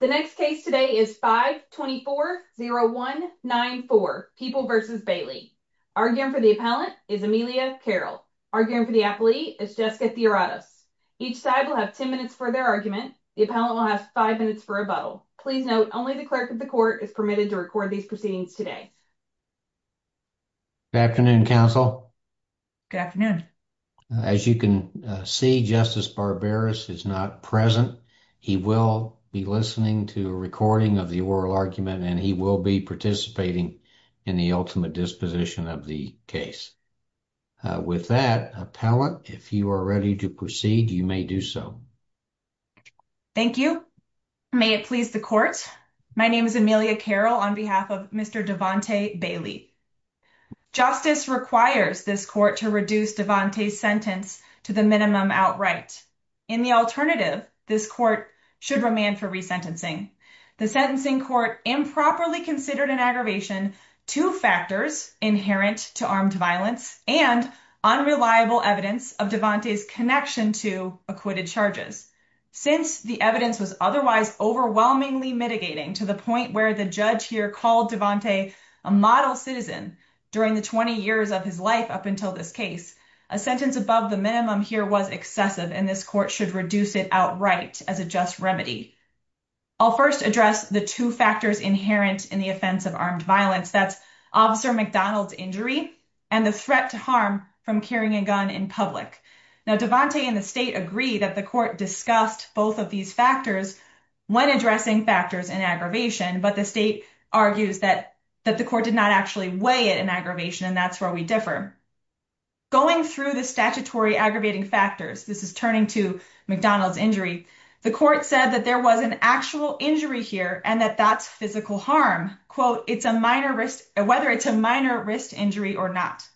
The next case today is 524-0194, People v. Bailey. Arguing for the appellant is Amelia Carroll. Arguing for the appellee is Jessica Theoratos. Each side will have 10 minutes for their argument. The appellant will have five minutes for rebuttal. Please note, only the clerk of the court is permitted to record these proceedings today. Good afternoon, counsel. Good afternoon. As you can see, Justice Barberis is not present. He will be listening to a recording of the oral argument, and he will be participating in the ultimate disposition of the case. With that, appellant, if you are ready to proceed, you may do so. Thank you. May it please the court. My name is Amelia Carroll on behalf of Mr. Devante Bailey. Justice requires this court to reduce Devante's sentence to the minimum outright. In the alternative, this court should remand for resentencing. The sentencing court improperly considered an aggravation to factors inherent to armed violence and unreliable evidence of Devante's connection to acquitted charges. Since the evidence was otherwise overwhelmingly mitigating to the point where the judge here called Devante a model citizen during the 20 years of his life up until this case, a sentence above the minimum here was excessive, and this court should reduce it outright as a just remedy. I'll first address the two factors inherent in the offense of armed violence. That's Officer McDonald's injury and the threat to harm from carrying a gun in public. Now, Devante and the state agree that the court discussed both of these factors when addressing factors in aggravation, but the state argues that the court did not actually weigh it in aggravation, and that's where we differ. Going through the statutory aggravating factors, this is turning to McDonald's injury, the court said that there was an actual injury here and that that's physical harm, whether it's a minor wrist injury or not.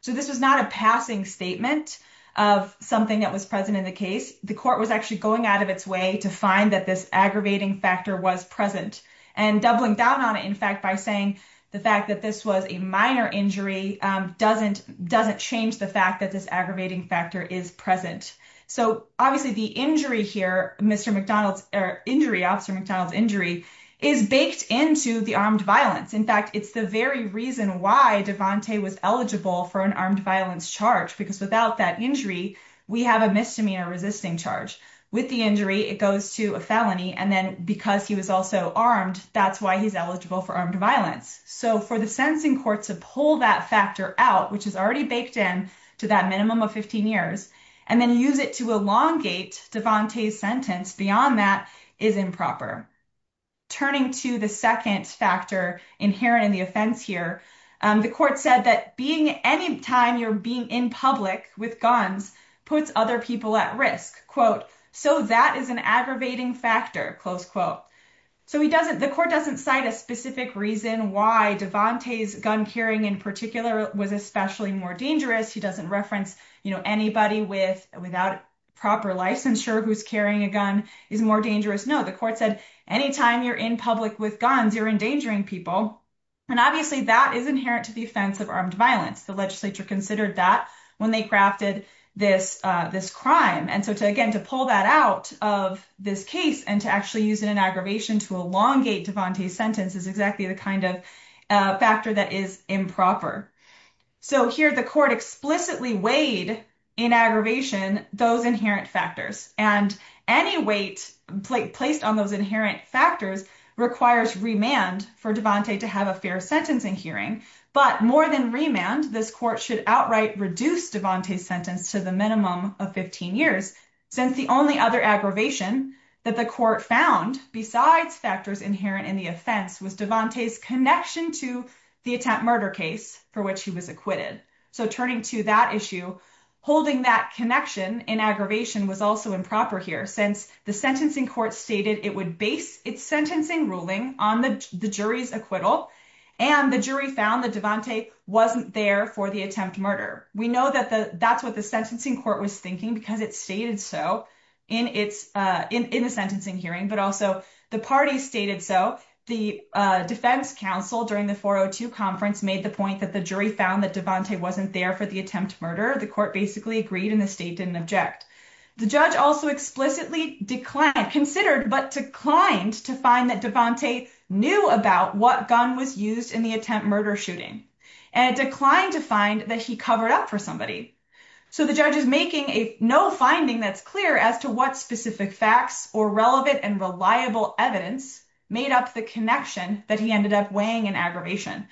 So this was not a passing statement of something that was present in the case. The court was actually going out of its way to find that this aggravating factor was present and doubling down on it, in fact, by saying the fact that this was a minor injury doesn't change the fact that this aggravating factor is present. So obviously the injury here, Officer McDonald's injury, is baked into the armed violence. In fact, it's the very reason why Devante was eligible for an armed violence charge, because without that injury, we have a misdemeanor resisting charge. With the injury, it goes to a felony, and then because he was also armed, that's why he's eligible for armed violence. So for the sentencing court to pull that factor out, which is already baked in to that minimum of 15 years, and then use it to elongate Devante's sentence beyond that is improper. Turning to the second factor inherent in the offense here, the court said that being anytime you're being in public with guns puts other people at risk. So that is an aggravating factor. Close quote. So the court doesn't cite a specific reason why Devante's gun carrying in particular was especially more dangerous. He doesn't reference anybody without proper licensure who's carrying a gun is more dangerous. No, the court said anytime you're in public with guns, you're endangering people. And obviously that is inherent to the offense of armed violence. The legislature considered that when they crafted this crime. And so again, to pull that out of this case and to actually use it in aggravation to elongate Devante's sentence is exactly the kind of factor that is improper. So here the court explicitly weighed in aggravation those inherent factors. And any weight placed on those inherent factors requires remand for Devante to have a fair sentencing hearing. But more than remand, this court should outright reduce Devante's sentence to the minimum of 15 years since the only other aggravation that the court found besides factors inherent in the offense was Devante's connection to the attempt murder case for which he was acquitted. So turning to that issue, holding that connection in aggravation was also improper here since the sentencing court stated it would base its sentencing ruling on the jury's acquittal. And the jury found that Devante wasn't there for the attempt murder. We know that that's what the sentencing court was thinking because it stated so in the sentencing hearing, but also the parties stated so. The defense counsel during the 402 conference made the point that the jury found that Devante wasn't there for the attempt murder. The court basically agreed and the state didn't object. The judge also explicitly declined, considered, but declined to find that Devante knew about what gun was used in the attempt murder shooting. And declined to find that he covered up for somebody. So the judge is making no finding that's clear as to what specific facts or relevant and reliable evidence made up the connection that he ended up weighing in aggravation.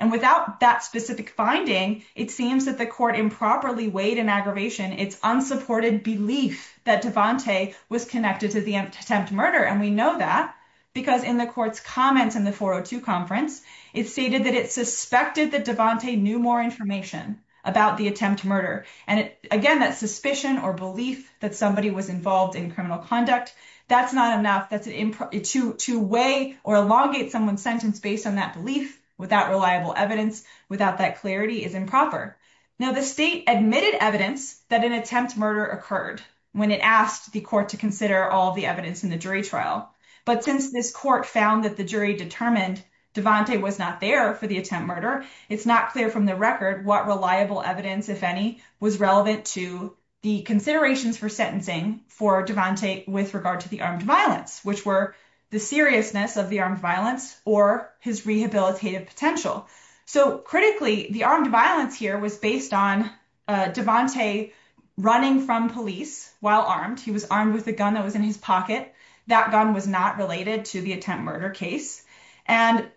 And without that specific finding, it seems that the court improperly weighed in aggravation its unsupported belief that Devante was connected to the attempt murder. And we know that because in the court's comments in the 402 conference, it stated that it suspected that Devante knew more information about the attempt murder. And again, that suspicion or belief that somebody was involved in criminal conduct, that's not enough. To weigh or elongate someone's sentence based on that belief without reliable evidence, without that clarity is improper. Now the state admitted evidence that an attempt murder occurred when it asked the court to consider all the evidence in the jury trial. But since this court found that the jury determined Devante was not there for the attempt murder, it's not clear from the record what reliable evidence, if any, was relevant to the considerations for sentencing for Devante with regard to the armed violence, which were the seriousness of the armed violence or his rehabilitative potential. So critically, the armed violence here was based on Devante running from police while armed. He was armed with a gun that was in his pocket. That gun was not related to the attempt murder case. And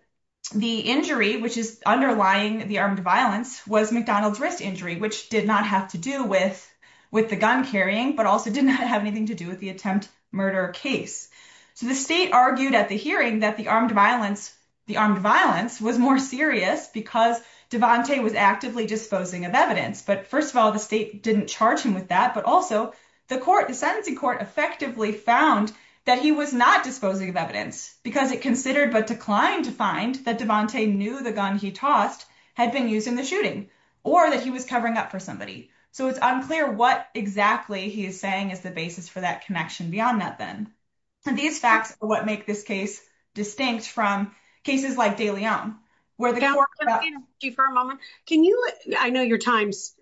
the injury, which is underlying the armed violence, was McDonald's wrist injury, which did not have to do with the gun carrying, but also did not have anything to do with the attempt murder case. So the state argued at the hearing that the armed violence was more serious because Devante was actively disposing of evidence. But first of all, the state didn't charge him with that. But also the court, the sentencing court, effectively found that he was not disposing of evidence because it considered but declined to find that Devante knew the gun he tossed had been used in the shooting or that he was covering up for somebody. So it's unclear what exactly he is saying is the basis for that connection beyond that then. And these facts are what make this case distinct from cases like De Leon, where the court- Can I interrupt you for a moment? Can you, I know your time's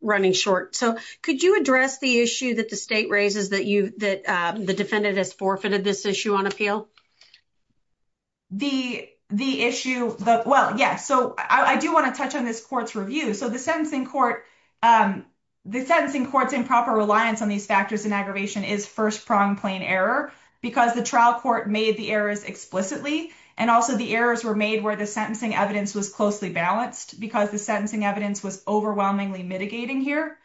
running short. So could you address the issue that the state raises that the defendant has forfeited this issue on appeal? The issue that, well, yeah. So I do want to touch on this court's review. So the sentencing court, the sentencing court's improper reliance on these factors in aggravation is first prong plain error because the trial court made the errors explicitly. And also the errors were made where the sentencing evidence was closely balanced because the sentencing evidence was overwhelmingly mitigating here.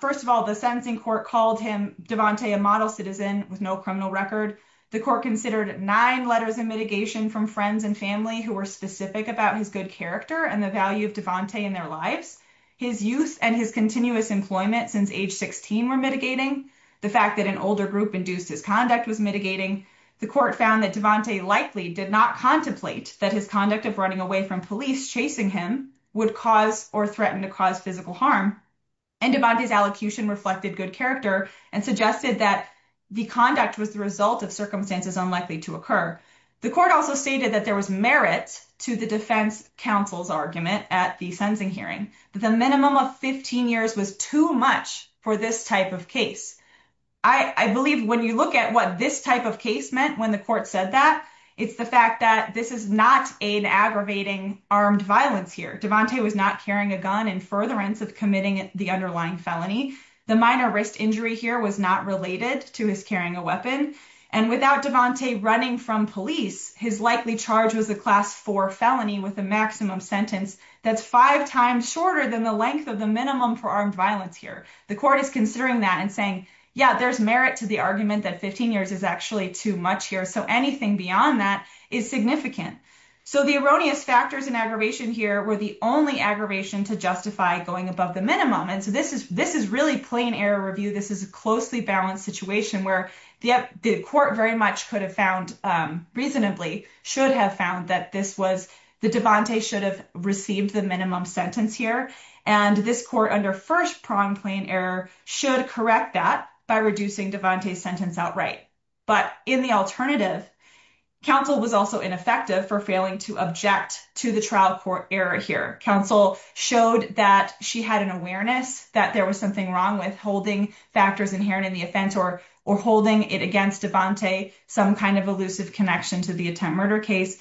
First of all, the sentencing court called him Devante, a model citizen with no criminal record. The court considered nine letters of mitigation from friends and family who were specific about his good character and the value of Devante in their lives. His youth and his continuous employment since age 16 were mitigating. The fact that an older group induced his conduct was mitigating. The court found that Devante likely did not contemplate that his conduct of running away from police chasing him would cause or threaten to cause physical harm. And Devante's allocution reflected good character and suggested that the conduct was the result of circumstances unlikely to occur. The court also stated that there was merit to the defense counsel's argument at the sentencing hearing. The minimum of 15 years was too much for this type of case. I believe when you look at what this type of case meant when the court said that, it's the fact that this is not an aggravating armed violence here. Devante was not carrying a gun in furtherance of committing the underlying felony. The minor wrist injury here was not related to his carrying a weapon. And without Devante running from police, his likely charge was a class four felony with a maximum sentence that's five times shorter than the length of the minimum for armed violence here. The court is considering that and saying, yeah, there's merit to the argument that 15 years is actually too much here. So anything beyond that is significant. So the erroneous factors in aggravation here were the only aggravation to justify going above the minimum. And so this is really plain error review. This is a closely balanced situation where the court very much could have found, reasonably should have found that this was, that Devante should have received the minimum sentence here. And this court under first prime plain error should correct that by reducing Devante's sentence outright. But in the alternative, counsel was also ineffective for failing to object to the trial court error here. Counsel showed that she had an awareness that there was something wrong with holding factors inherent in the offense or holding it against Devante, some kind of elusive connection to the attempt murder case.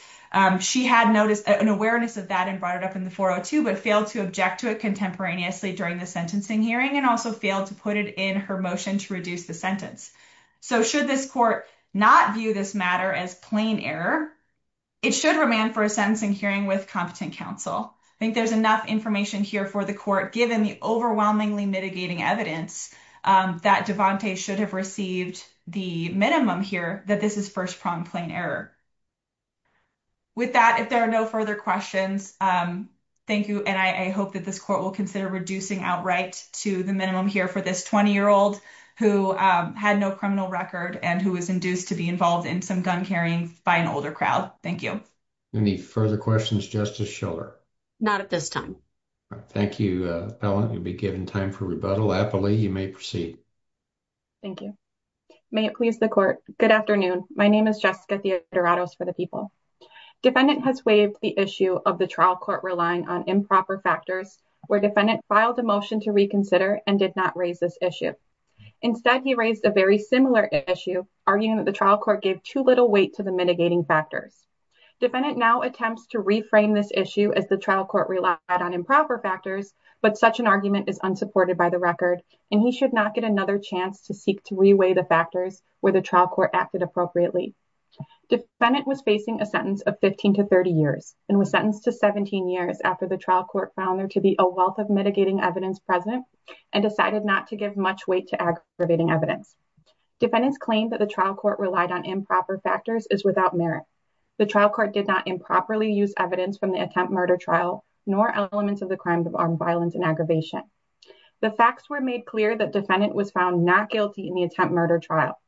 She had noticed an awareness of that and brought it up in the 402, but failed to object to it contemporaneously during the sentencing hearing and also failed to put it in her motion to reduce the sentence. So should this court not view this matter as plain error, it should remand for a sentencing hearing with competent counsel. I think there's enough information here for the court, given the overwhelmingly mitigating evidence that Devante should have received the minimum here, that this is first prime plain error. With that, if there are no further questions, thank you. And I hope that this court will consider reducing outright to the minimum here for this 20-year-old who had no criminal record and who was induced to be involved in some gun carrying by an older crowd. Thank you. Any further questions, Justice Schiller? Not at this time. Thank you, Ellen. You'll be given time for rebuttal. You may proceed. Thank you. May it please the court. Good afternoon. My name is Jessica Theodoratos for the People. Defendant has waived the issue of the trial court relying on improper factors where defendant filed a motion to reconsider and did not raise this issue. Instead, he raised a very similar issue arguing that the trial court gave too little weight to the mitigating factors. Defendant now attempts to reframe this issue as the trial court relied on improper factors, but such an argument is unsupported by the record and he should not get another chance to seek to reweigh the factors where the trial court acted appropriately. Defendant was facing a sentence of 15 to 30 years and was sentenced to 17 years after the trial court found there to be a wealth of mitigating evidence present and decided not to give much weight to aggravating evidence. Defendants claim that the trial court relied on improper factors is without merit. The trial court did not improperly use evidence from the attempt murder trial nor elements of the crime of armed violence and aggravation. The facts were made clear that defendant was found not guilty in the attempt murder trial.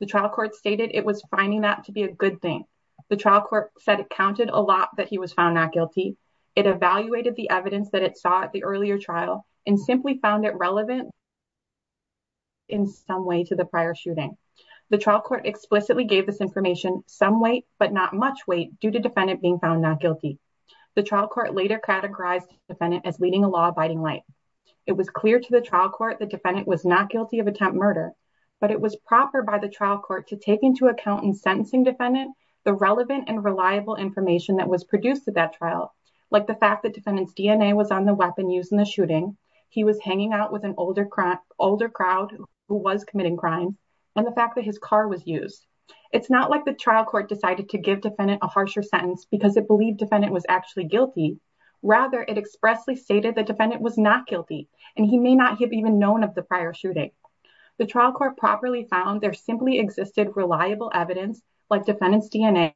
The trial court stated it was finding that to be a good thing. The trial court said it counted a lot that he was found not guilty. It evaluated the evidence that it saw at the earlier trial and simply found it relevant in some way to the prior shooting. The trial court explicitly gave this information some weight but not much weight due to defendant being found not guilty. The trial court later categorized defendant as leading a law abiding life. It was clear to the trial court the defendant was not guilty of attempt murder but it was proper by the trial court to take into account in sentencing defendant the relevant and reliable information that was produced at that trial. Like the fact that defendant's DNA was on the weapon used in the shooting. He was hanging out with an older crowd who was committing crime and the fact that his car was used. It's not like the trial court decided to give defendant a harsher sentence because it believed defendant was actually guilty. Rather it expressly stated that defendant was not guilty and he may not have even known of the prior shooting. The trial court properly found there simply existed reliable evidence like defendant's DNA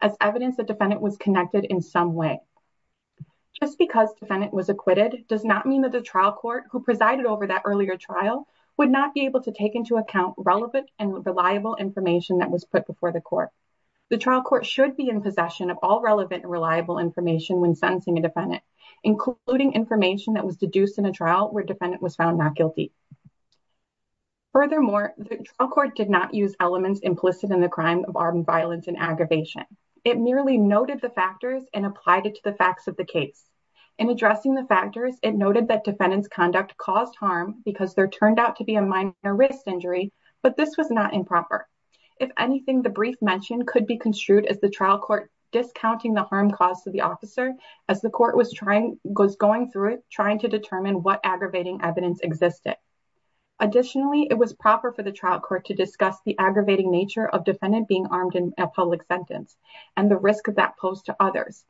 as evidence that defendant was connected in some way. Just because defendant was acquitted does not mean that the trial court who presided over that earlier trial would not be able to take into account relevant and reliable information that was put before the court. The trial court should be in possession of all relevant and reliable information when sentencing a defendant including information that was deduced in a trial where defendant was found not guilty. Furthermore, the trial court did not use elements implicit in the crime of armed violence and aggravation. It merely noted the factors and applied it to the facts of the case. In addressing the factors, it noted that defendant's conduct caused harm because there turned out to be a minor wrist injury but this was not improper. If anything, the brief mentioned could be construed as the trial court discounting the harm caused to the officer as the court was going through it trying to determine what aggravating evidence existed. Additionally, it was proper for the trial court to discuss the aggravating nature of defendant being armed in a public sentence and the risk of that posed to others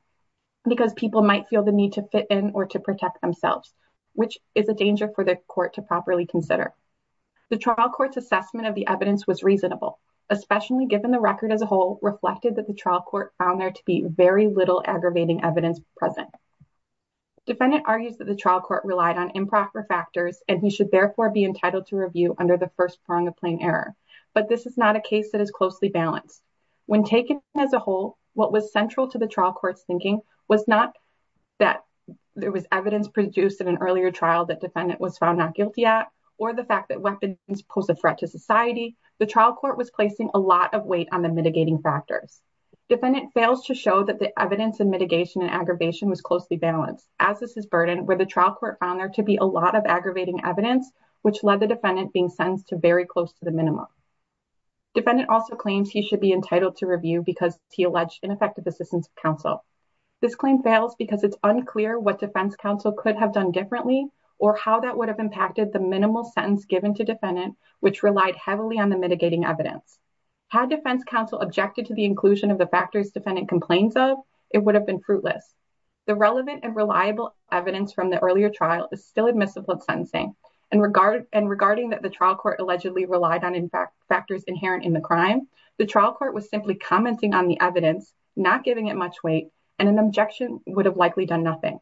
because people might feel the need to fit in or to protect themselves which is a danger for the court to properly consider. The trial court's assessment of the evidence was reasonable especially given the record as a whole reflected that the trial court found there to be very little aggravating evidence present. Defendant argues that the trial court relied on improper factors and he should therefore be entitled to review under the first prong of plain error but this is not a case that is closely balanced. When taken as a whole, what was central to the trial court's thinking was not that there was evidence produced in an earlier trial that defendant was found not guilty at or the fact that weapons pose a threat to society. The trial court was placing a lot of weight on the mitigating factors. Defendant fails to show that the evidence and mitigation and aggravation was closely balanced as this is burdened where the trial court found there to be a lot of aggravating evidence which led the defendant being sentenced to very close to the minimum. Defendant also claims he should be entitled to review because he alleged ineffective assistance of counsel. This claim fails because it's unclear what defense counsel could have done differently or how that would have impacted the minimal sentence given to defendant which relied heavily on the mitigating evidence. Had defense counsel objected to the inclusion of the factors defendant complains of, it would have been fruitless. The relevant and reliable evidence from the earlier trial is still admissible in sentencing and regarding that the trial court allegedly relied on factors inherent in the crime, the trial court was simply commenting on the evidence, not giving it much weight and an objection would have likely done nothing.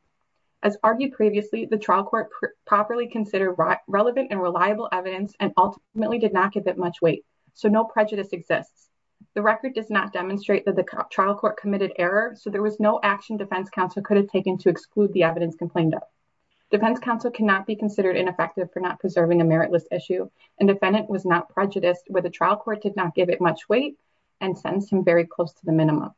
As argued previously, the trial court properly considered relevant and reliable evidence and ultimately did not give it much weight. So no prejudice exists. The record does not demonstrate that the trial court committed error. So there was no action defense counsel could have taken to exclude the evidence complained of. Defense counsel cannot be considered ineffective for not preserving a meritless issue and defendant was not prejudiced where the trial court did not give it much weight and sentenced him very close to the minimum.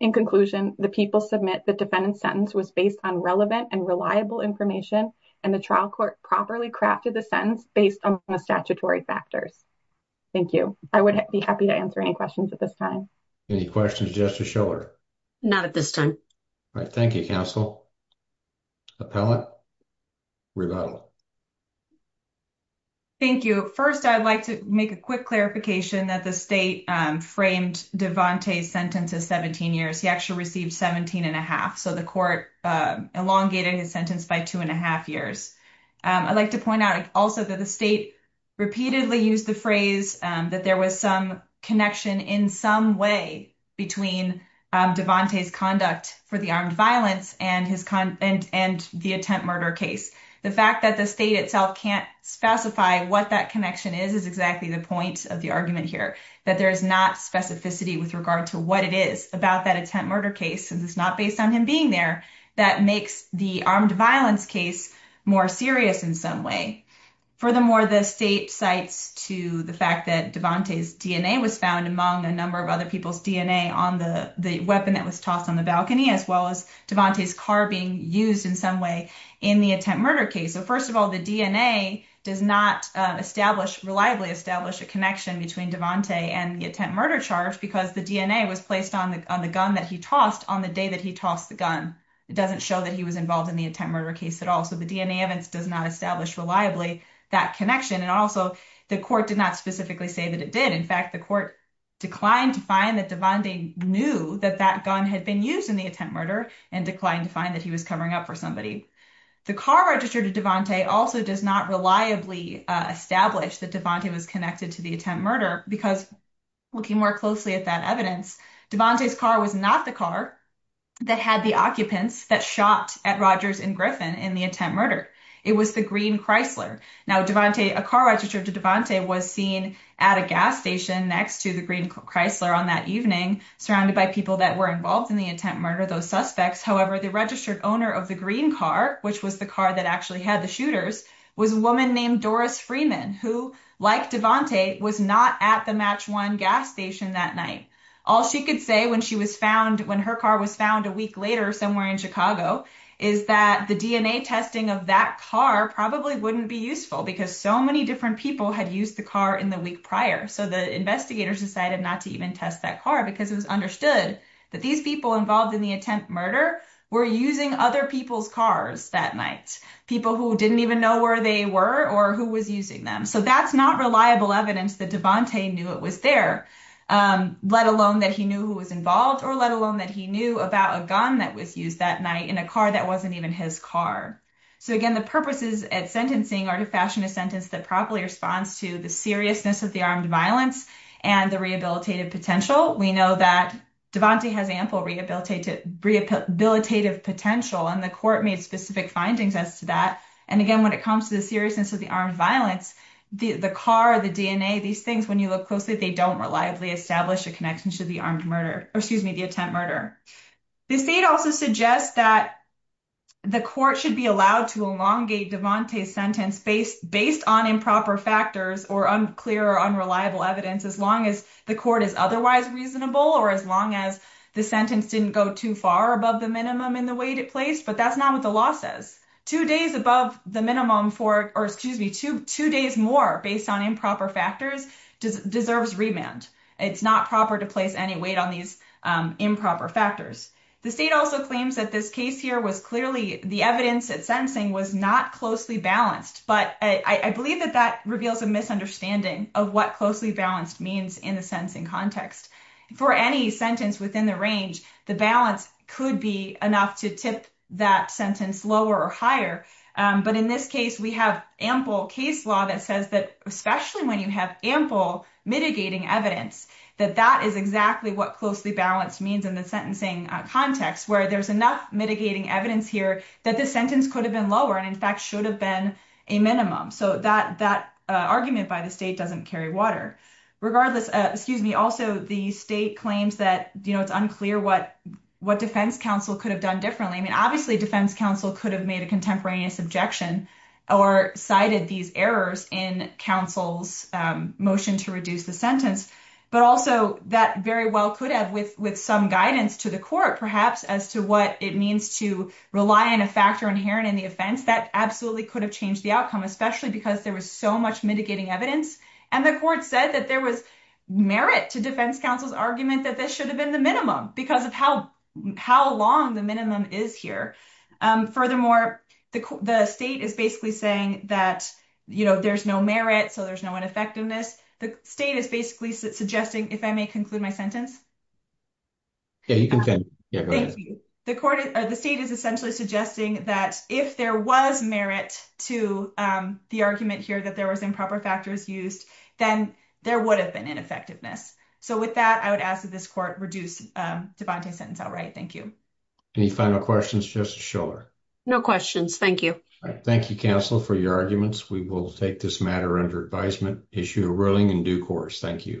In conclusion, the people submit the defendant's sentence was based on relevant and reliable information and the trial court properly crafted the sentence based on the statutory factors. Thank you. I would be happy to answer any questions at this time. Any questions, Justice Schiller? Not at this time. All right. Thank you, counsel. Appellant, rebuttal. Thank you. First, I'd like to make a quick clarification that the state framed Devante's sentence as 17 years. He actually received 17 and a half. So the court elongated his sentence by two and a half years. I'd like to point out also that the state repeatedly used the phrase that there was some connection in some way between Devante's conduct for the armed violence and the attempt murder case. The fact that the state itself can't specify what that connection is is exactly the point of the argument here. That there is not specificity with regard to what it is about that attempt murder case and it's not based on him being there that makes the armed violence case more serious in some way. Furthermore, the state cites to the fact that Devante's DNA was found among a number of other people's DNA on the weapon that was tossed on the balcony as well as Devante's car being used in some way in the attempt murder case. So first of all, the DNA does not reliably establish a connection between Devante and the attempt murder charge because the DNA was placed on the gun that he tossed on the day that he tossed the gun. It doesn't show that he was involved in the attempt murder case at all. So the DNA evidence does not establish reliably that connection. And also the court did not specifically say that it did. In fact, the court declined to find that Devante knew that that gun had been used in the attempt murder and declined to find that he was covering up for somebody. The car registered to Devante also does not reliably establish that Devante was connected to the attempt murder because looking more closely at that evidence, Devante's car was not the car that had the occupants that shot at Rogers and Griffin in the attempt murder. It was the green Chrysler. Now Devante, a car registered to Devante was seen at a gas station next to the green Chrysler on that evening, surrounded by people that were involved in the attempt murder, those suspects. However, the registered owner of the green car, which was the car that actually had the shooters, was a woman named Doris Freeman, who like Devante was not at the Match One gas station that night. All she could say when she was found, when her car was found a week later somewhere in Chicago, is that the DNA testing of that car probably wouldn't be useful because so many different people had used the car in the week prior. So the investigators decided not to even test that car because it was understood that these people involved in the attempt murder were using other people's cars that night, people who didn't even know where they were or who was using them. So that's not reliable evidence that Devante knew it was there, let alone that he knew who was involved or let alone that he knew about a gun that was used that night in a car that wasn't even his car. So again, the purposes at sentencing are to fashion a sentence that properly responds to the seriousness of the armed violence and the rehabilitative potential. We know that Devante has ample rehabilitative potential and the court made specific findings as to that. And again, when it comes to the seriousness of the armed violence, the car, the DNA, these things, when you look closely, they don't reliably establish a connection to the armed murder, or excuse me, the attempt murder. The state also suggests that the court should be allowed to elongate Devante's sentence based on improper factors or unclear or unreliable evidence, as long as the court is otherwise reasonable or as long as the sentence didn't go too far above the minimum in the way it placed. But that's not what the law says. Two days above the minimum for, or excuse me, two days more based on improper factors deserves remand. It's not proper to place any weight on these improper factors. The state also claims that this case here was clearly the evidence that sentencing was not closely balanced, but I believe that that reveals a misunderstanding of what closely balanced means in the sentencing context. For any sentence within the range, the balance could be enough to tip that sentence lower or higher. But in this case, we have ample case law that says that, especially when you have ample mitigating evidence, that that is exactly what closely balanced means in the sentencing context, where there's enough mitigating evidence here that the sentence could have been lower and in fact should have been a minimum. So that argument by the state doesn't carry water. Regardless, excuse me, also the state claims that it's unclear what defense counsel could have done differently. I mean, obviously defense counsel could have made a contemporaneous objection or cited these errors in counsel's motion to reduce the sentence. But also that very well could have with some guidance to the court perhaps as to what it means to rely on a factor inherent in the offense, that absolutely could have changed the outcome, especially because there was so much mitigating evidence. And the court said that there was merit to defense counsel's argument that this should have been the minimum because of how long the minimum is here. Furthermore, the state is basically saying that there's no merit, so there's no ineffectiveness. The state is basically suggesting, if I may conclude my sentence. Yeah, you can continue. Yeah, go ahead. Thank you. The state is essentially suggesting that if there was merit to the argument here that there was improper factors used, then there would have been ineffectiveness. So with that, I would ask that this court reduce Devante's sentence outright. Thank you. Any final questions, Justice Schiller? No questions. Thank you. Thank you, counsel, for your arguments. We will take this matter under advisement, issue a ruling, and due course. Thank you.